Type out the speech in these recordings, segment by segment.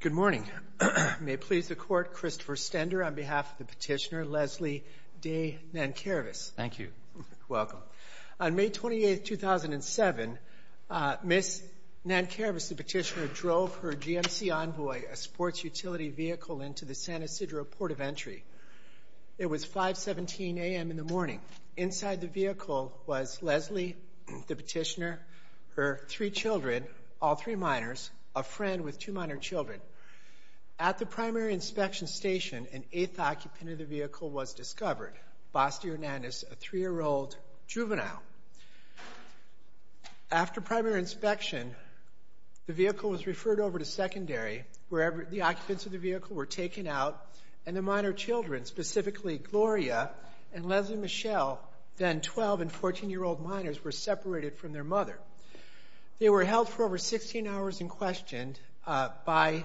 Good morning. May it please the Court, Christopher Stender on behalf of the petitioner Leslie De Nankervis. Thank you. Welcome. On May 28, 2007, Ms. Nankervis, the petitioner, drove her GMC Envoy, a sports utility vehicle, into the San Ysidro Port of Entry. It was 5.17 a.m. in the morning. Inside the vehicle was Leslie, the petitioner, her three children, all three minors, a friend with two minor children. At the primary inspection station, an eighth occupant of the vehicle was discovered, Basti Hernandez, a three-year-old juvenile. After primary inspection, the vehicle was referred over to secondary, where the occupants of the vehicle were taken out, and the minor children, specifically Gloria and Leslie Michelle, then 12- and 14-year-old minors, were separated from their mother. They were held for over 16 hours in question by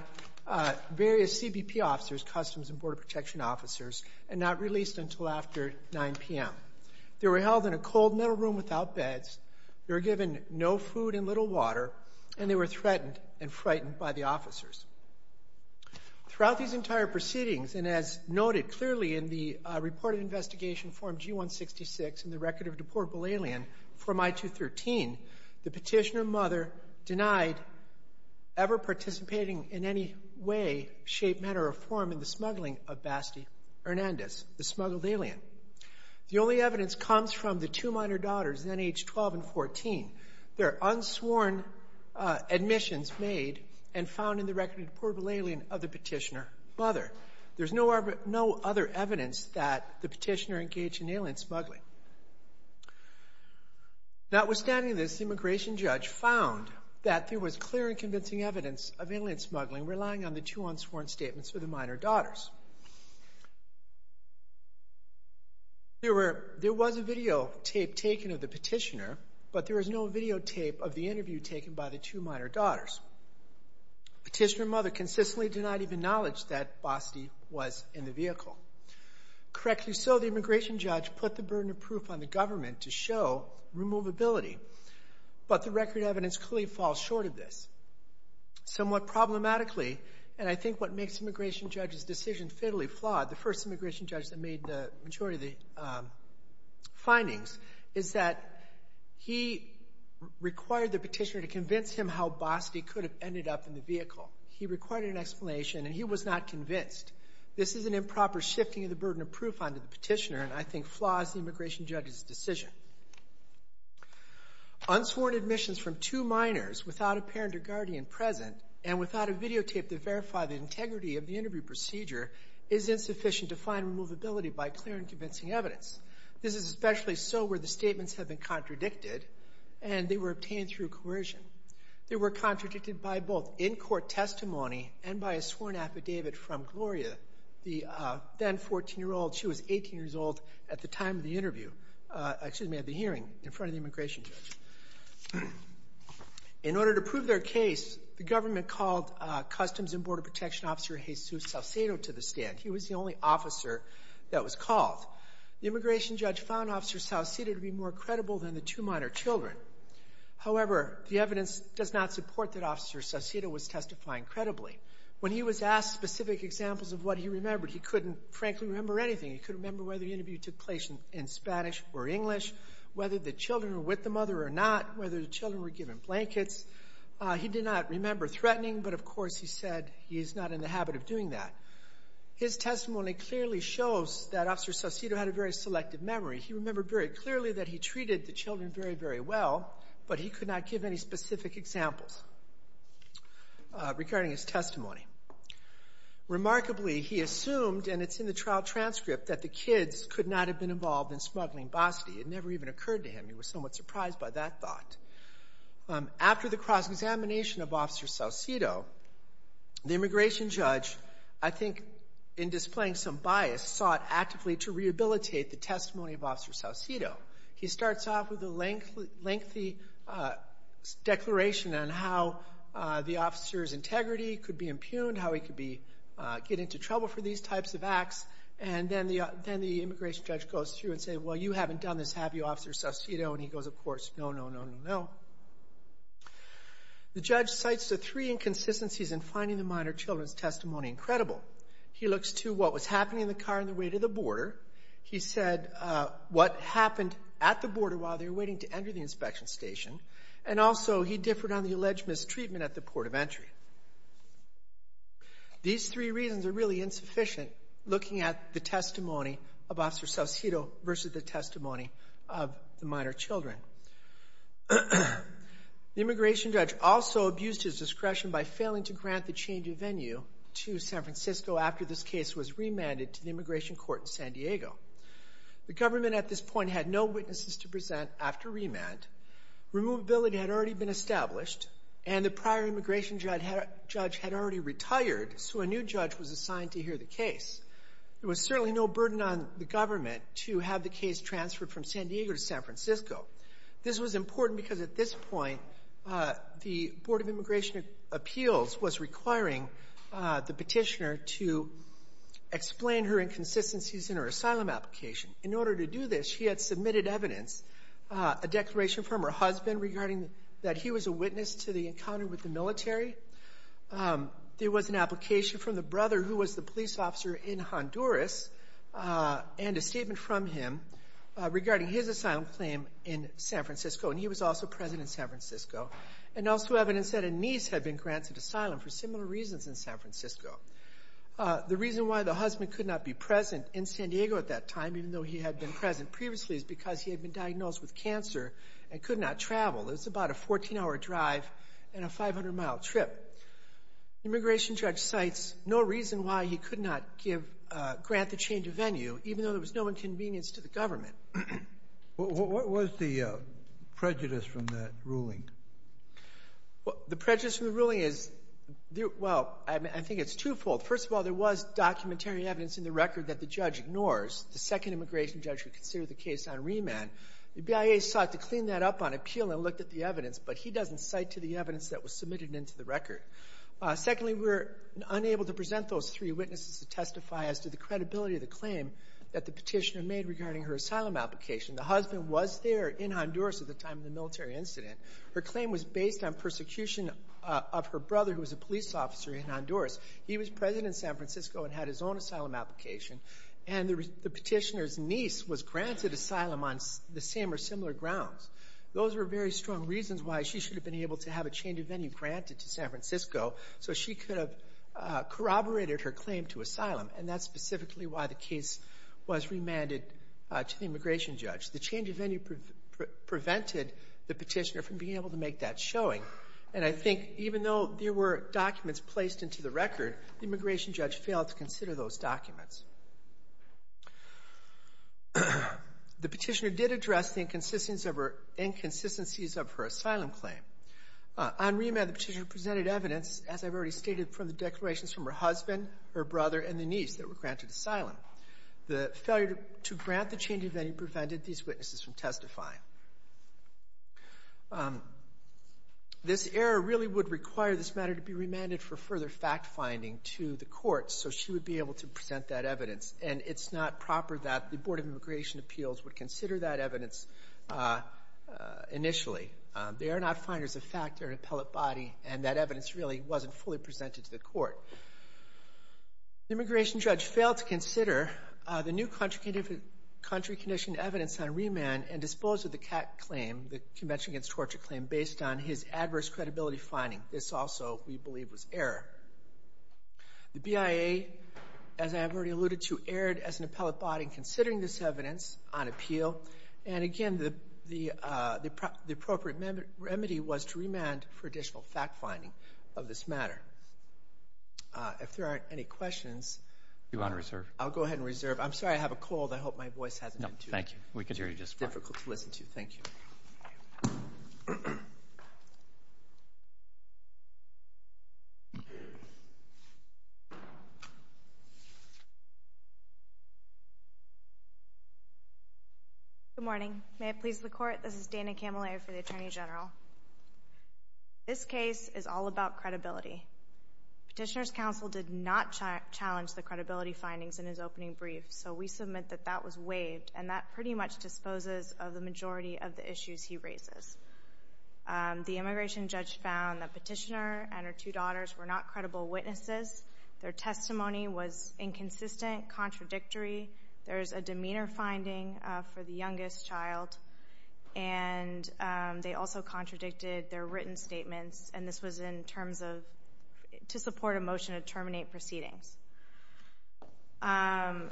various CBP officers, Customs and Border Protection officers, and not released until after 9 p.m. They were held in a cold, metal room without beds. They were given no food and little water, and they were threatened and frightened by the officers. Throughout these entire proceedings, and as noted clearly in the reported investigation form G-166 and the record of deportable alien from I-213, the petitioner mother denied ever participating in any way, shape, matter, or form in the smuggling of Basti Hernandez, the smuggled alien. The only evidence comes from the two minor daughters, then age 12 and 14. There are unsworn admissions made and found in the record of deportable alien of the petitioner mother. There's no other evidence that the petitioner engaged in alien smuggling. Notwithstanding this, the immigration judge found that there was clear and convincing evidence of alien smuggling, relying on the two unsworn statements for the minor daughters. There was a videotape taken of the petitioner, but there was no videotape of the interview taken by the two minor daughters. Petitioner mother consistently denied even knowledge that Basti was in the vehicle. Correctly so, the immigration judge put the burden of proof on the government to show removability, but the record evidence clearly falls short of this. Somewhat problematically, and I think what makes the immigration judge's decision fatally flawed, the first immigration judge that made the majority of the findings, is that he required the petitioner to convince him how Basti could have ended up in the vehicle. He required an explanation, and he was not convinced. This is an improper shifting of the burden of proof onto the petitioner, and I think flaws the immigration judge's decision. Unsworn admissions from two minors without a parent or guardian present and without a videotape to verify the integrity of the interview procedure is insufficient to find removability by clear and convincing evidence. This is especially so where the statements have been contradicted, and they were obtained through coercion. They were contradicted by both in-court testimony and by a sworn affidavit from Gloria, the then 14-year-old. She was 18 years old at the time of the interview, excuse me, at the hearing in front of the immigration judge. In order to prove their case, the government called Customs and Border Protection Officer Jesus Saucedo to the stand. He was the only officer that was called. The immigration judge found Officer Saucedo to be more credible than the two minor children. However, the evidence does not support that Officer Saucedo was testifying credibly. When he was asked specific examples of what he remembered, he couldn't frankly remember anything. He couldn't remember whether the interview took place in Spanish or English, whether the children were with the mother or not, whether the children were given blankets. He did not remember threatening, but, of course, he said he is not in the habit of doing that. His testimony clearly shows that Officer Saucedo had a very selective memory. He remembered very clearly that he treated the children very, very well, but he could not give any specific examples regarding his testimony. Remarkably, he assumed, and it's in the trial transcript, that the kids could not have been involved in smuggling Bosty. It never even occurred to him. He was somewhat surprised by that thought. After the cross-examination of Officer Saucedo, the immigration judge, I think, in displaying some bias, sought actively to rehabilitate the testimony of Officer Saucedo. He starts off with a lengthy declaration on how the officer's integrity could be impugned, how he could get into trouble for these types of acts, and then the immigration judge goes through and says, well, you haven't done this, have you, Officer Saucedo? And he goes, of course, no, no, no, no, no. The judge cites the three inconsistencies in finding the minor children's testimony incredible. He looks to what was happening in the car on the way to the border. He said what happened at the border while they were waiting to enter the inspection station, and also he differed on the alleged mistreatment at the port of entry. These three reasons are really insufficient looking at the testimony of Officer Saucedo versus the testimony of the minor children. The immigration judge also abused his discretion by failing to grant the change of venue to San Francisco after this case was remanded to the immigration court in San Diego. The government at this point had no witnesses to present after remand. Removability had already been established, and the prior immigration judge had already retired, so a new judge was assigned to hear the case. There was certainly no burden on the government to have the case transferred from San Diego to San Francisco. This was important because at this point, the Board of Immigration Appeals was requiring the petitioner to explain her inconsistencies in her asylum application. In order to do this, she had submitted evidence, a declaration from her husband regarding that he was a witness to the encounter with the military. There was an application from the brother who was the police officer in Honduras and a statement from him regarding his asylum claim in San Francisco, and he was also president of San Francisco, and also evidence that a niece had been granted asylum for similar reasons in San Francisco. The reason why the husband could not be present in San Diego at that time, even though he had been present previously, is because he had been diagnosed with cancer and could not travel. It was about a 14-hour drive and a 500-mile trip. The immigration judge cites no reason why he could not grant the change of venue, even though there was no inconvenience to the government. What was the prejudice from that ruling? The prejudice from the ruling is, well, I think it's twofold. First of all, there was documentary evidence in the record that the judge ignores. The second immigration judge would consider the case on remand. The BIA sought to clean that up on appeal and looked at the evidence, but he doesn't cite to the evidence that was submitted into the record. Secondly, we were unable to present those three witnesses to testify as to the credibility of the claim that the petitioner made regarding her asylum application. The husband was there in Honduras at the time of the military incident. Her claim was based on persecution of her brother, who was a police officer in Honduras. He was president of San Francisco and had his own asylum application, and the petitioner's niece was granted asylum on the same or similar grounds. Those were very strong reasons why she should have been able to have a change of venue granted to San Francisco so she could have corroborated her claim to asylum, and that's specifically why the case was remanded to the immigration judge. The change of venue prevented the petitioner from being able to make that showing. And I think even though there were documents placed into the record, the immigration judge failed to consider those documents. The petitioner did address the inconsistencies of her asylum claim. On remand, the petitioner presented evidence, as I've already stated, from the declarations from her husband, her brother, and the niece that were granted asylum. The failure to grant the change of venue prevented these witnesses from testifying. This error really would require this matter to be remanded for further fact-finding to the courts so she would be able to present that evidence, and it's not proper that the Board of Immigration Appeals would consider that evidence initially. They are not finders of fact. They're an appellate body, and that evidence really wasn't fully presented to the court. The immigration judge failed to consider the new country-conditioned evidence on remand and disposed of the CAC claim, the Convention Against Torture claim, based on his adverse credibility finding. This also, we believe, was error. The BIA, as I have already alluded to, erred as an appellate body in considering this evidence on appeal. And again, the appropriate remedy was to remand for additional fact-finding of this matter. If there aren't any questions, I'll go ahead and reserve. I'm sorry, I have a cold. I hope my voice hasn't been too difficult to listen to. Thank you. Good morning. May it please the Court, this is Dana Cammelaer for the Attorney General. This case is all about credibility. Petitioner's counsel did not challenge the credibility findings in his opening brief, so we submit that that was waived, and that pretty much disposes of the majority of the issues he raises. The immigration judge found that Petitioner and her two daughters were not credible witnesses. Their testimony was inconsistent, contradictory. There is a demeanor finding for the youngest child, and they also contradicted their written statements, and this was in terms of to support a motion to terminate proceedings. And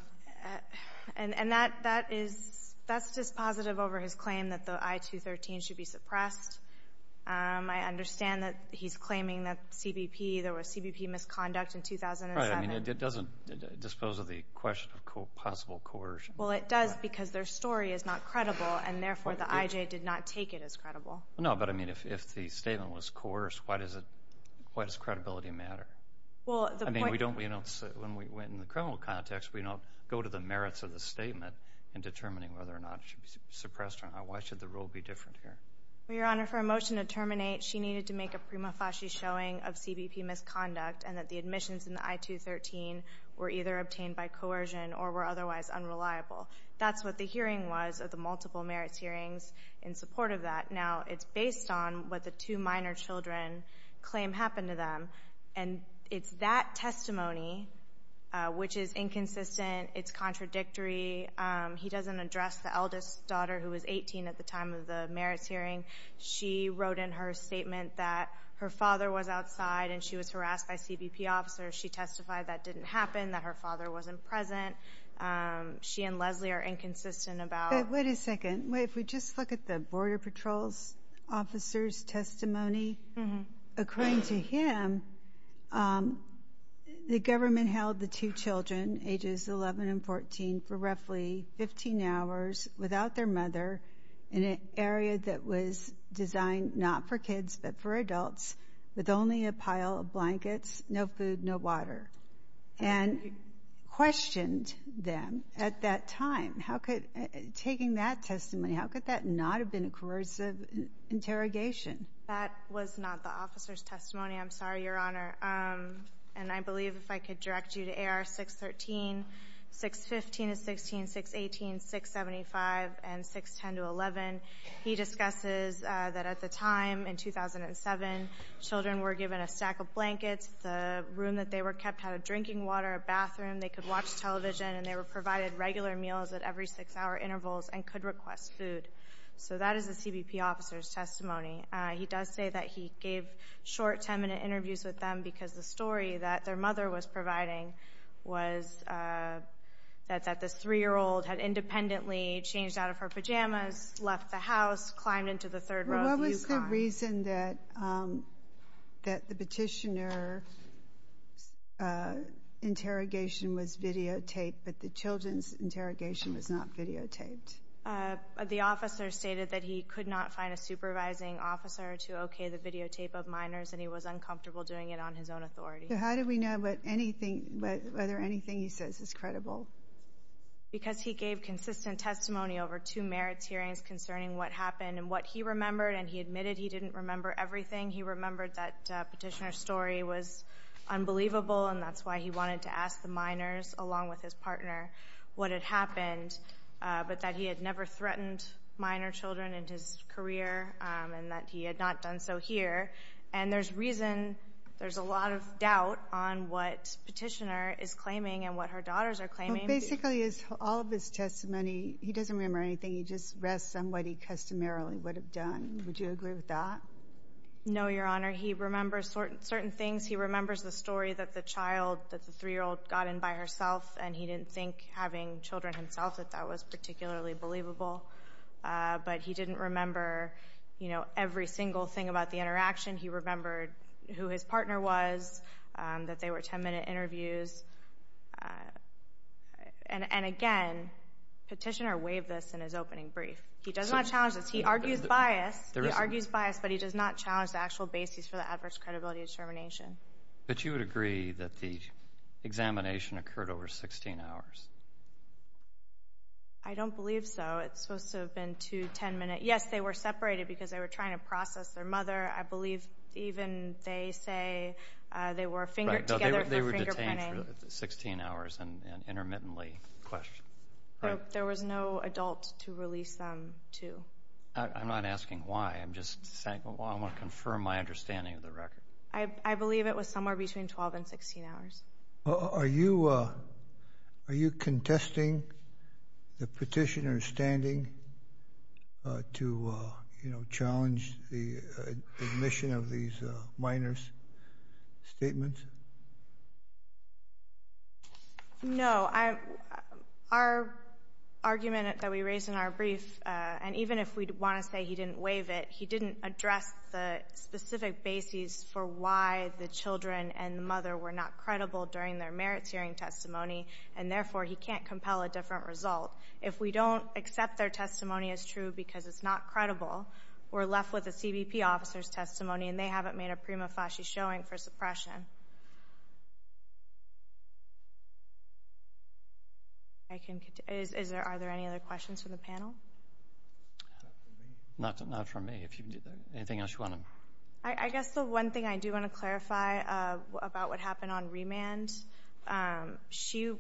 that is just positive over his claim that the I-213 should be suppressed. I understand that he's claiming that CBP, there was CBP misconduct in 2007. I mean, it doesn't dispose of the question of possible coercion. Well, it does because their story is not credible, and therefore the IJ did not take it as credible. No, but, I mean, if the statement was coerced, why does credibility matter? I mean, when we went in the criminal context, we don't go to the merits of the statement in determining whether or not it should be suppressed or not. Why should the rule be different here? Well, Your Honor, for a motion to terminate, she needed to make a prima facie showing of CBP misconduct and that the admissions in the I-213 were either obtained by coercion or were otherwise unreliable. That's what the hearing was of the multiple merits hearings in support of that. Now, it's based on what the two minor children claim happened to them, and it's that testimony which is inconsistent. It's contradictory. He doesn't address the eldest daughter who was 18 at the time of the merits hearing. She wrote in her statement that her father was outside and she was harassed by CBP officers. She testified that didn't happen, that her father wasn't present. She and Leslie are inconsistent about. Wait a second. If we just look at the Border Patrol's officer's testimony, according to him, the government held the two children, ages 11 and 14, for roughly 15 hours without their mother in an area that was designed not for kids but for adults with only a pile of blankets, no food, no water, and questioned them at that time. Taking that testimony, how could that not have been a coercive interrogation? That was not the officer's testimony. I'm sorry, Your Honor. And I believe if I could direct you to AR 613, 615 is 16, 618 is 675, and 610 to 11, he discusses that at the time, in 2007, children were given a stack of blankets. The room that they were kept had a drinking water, a bathroom. They could watch television, and they were provided regular meals at every six-hour intervals and could request food. So that is the CBP officer's testimony. He does say that he gave short 10-minute interviews with them because the story that their mother was providing was that this 3-year-old had independently changed out of her pajamas, left the house, climbed into the third row of the Yukon. What was the reason that the petitioner's interrogation was videotaped but the children's interrogation was not videotaped? The officer stated that he could not find a supervising officer to okay the videotape of minors, and he was uncomfortable doing it on his own authority. How do we know whether anything he says is credible? Because he gave consistent testimony over two merits hearings concerning what happened and what he remembered, and he admitted he didn't remember everything. He remembered that the petitioner's story was unbelievable, and that's why he wanted to ask the minors, along with his partner, what had happened, but that he had never threatened minor children in his career and that he had not done so here. And there's reason, there's a lot of doubt on what the petitioner is claiming and what her daughters are claiming. Basically, all of his testimony, he doesn't remember anything. He just rests on what he customarily would have done. Would you agree with that? No, Your Honor. He remembers certain things. He remembers the story that the child, that the 3-year-old got in by herself, and he didn't think, having children himself, that that was particularly believable. But he didn't remember, you know, every single thing about the interaction. He remembered who his partner was, that they were 10-minute interviews. And again, petitioner waived this in his opening brief. He does not challenge this. He argues bias. He argues bias, but he does not challenge the actual basis for the adverse credibility determination. But you would agree that the examination occurred over 16 hours? I don't believe so. It's supposed to have been two 10-minute. Yes, they were separated because they were trying to process their mother. I believe even they say they were fingered together for fingerprinting. Right. No, they were detained for 16 hours and intermittently questioned. Right. There was no adult to release them to. I'm not asking why. I'm just saying I want to confirm my understanding of the record. I believe it was somewhere between 12 and 16 hours. Are you contesting the petitioner's standing to, you know, challenge the admission of these minors' statements? No. Our argument that we raised in our brief, and even if we want to say he didn't waive it, he didn't address the specific basis for why the children and the mother were not credible during their merits hearing testimony, and therefore he can't compel a different result. If we don't accept their testimony as true because it's not credible, we're left with a CBP officer's testimony, and they haven't made a prima facie showing for suppression. Are there any other questions from the panel? Not from me. Anything else you want to? I guess the one thing I do want to clarify about what happened on remand, the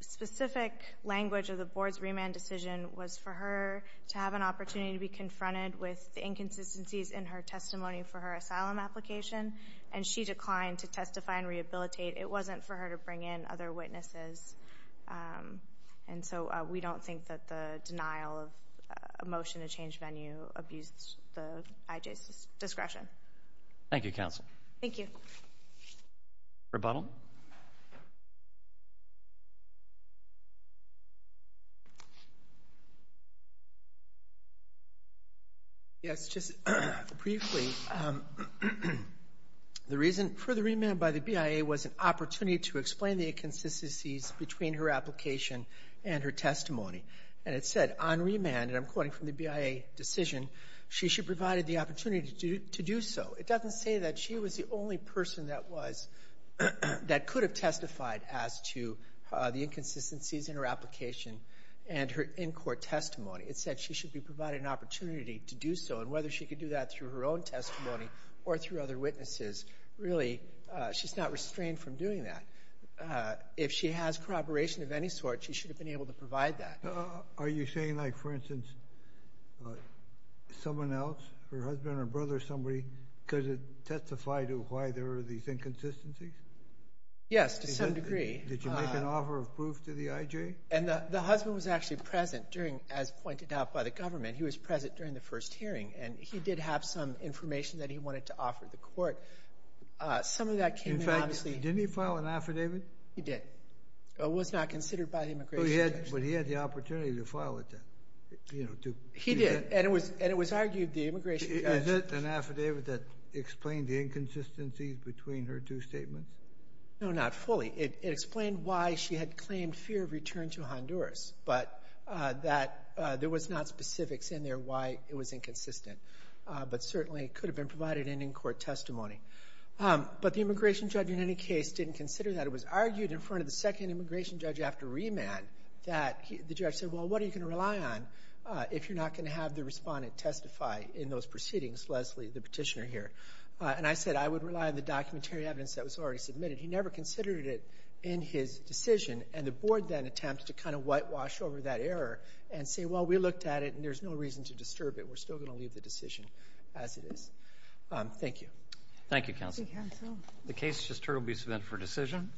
specific language of the board's remand decision was for her to have an opportunity to be confronted with the inconsistencies in her testimony for her asylum application, and she declined to testify and rehabilitate. It wasn't for her to bring in other witnesses. And so we don't think that the denial of a motion to change venue abused the IJ's discretion. Thank you, counsel. Thank you. Rebuttal. Yes, just briefly. The reason for the remand by the BIA was an opportunity to explain the inconsistencies between her application and her testimony. And it said on remand, and I'm quoting from the BIA decision, she should provide the opportunity to do so. It doesn't say that she was the only person that could have testified as to the inconsistencies in her application and her in-court testimony. It said she should be provided an opportunity to do so, and whether she could do that through her own testimony or through other witnesses, really she's not restrained from doing that. If she has corroboration of any sort, she should have been able to provide that. Are you saying, like, for instance, someone else, her husband or brother or somebody, could testify to why there were these inconsistencies? Yes, to some degree. Did you make an offer of proof to the IJ? And the husband was actually present during, as pointed out by the government, he was present during the first hearing, and he did have some information that he wanted to offer the court. Some of that came in obviously. In fact, didn't he file an affidavit? He did. It was not considered by the immigration judge. But he had the opportunity to file it then. He did, and it was argued the immigration judge. Is it an affidavit that explained the inconsistencies between her two statements? No, not fully. It explained why she had claimed fear of return to Honduras, but that there was not specifics in there why it was inconsistent. But certainly it could have been provided in in-court testimony. But the immigration judge, in any case, didn't consider that. It was argued in front of the second immigration judge after remand that the judge said, well, what are you going to rely on if you're not going to have the respondent testify in those proceedings, Leslie, the petitioner here? And I said I would rely on the documentary evidence that was already submitted. He never considered it in his decision, and the board then attempted to kind of whitewash over that error and say, well, we looked at it and there's no reason to disturb it. We're still going to leave the decision as it is. Thank you. Thank you, counsel. The case just turned will be sent for decision.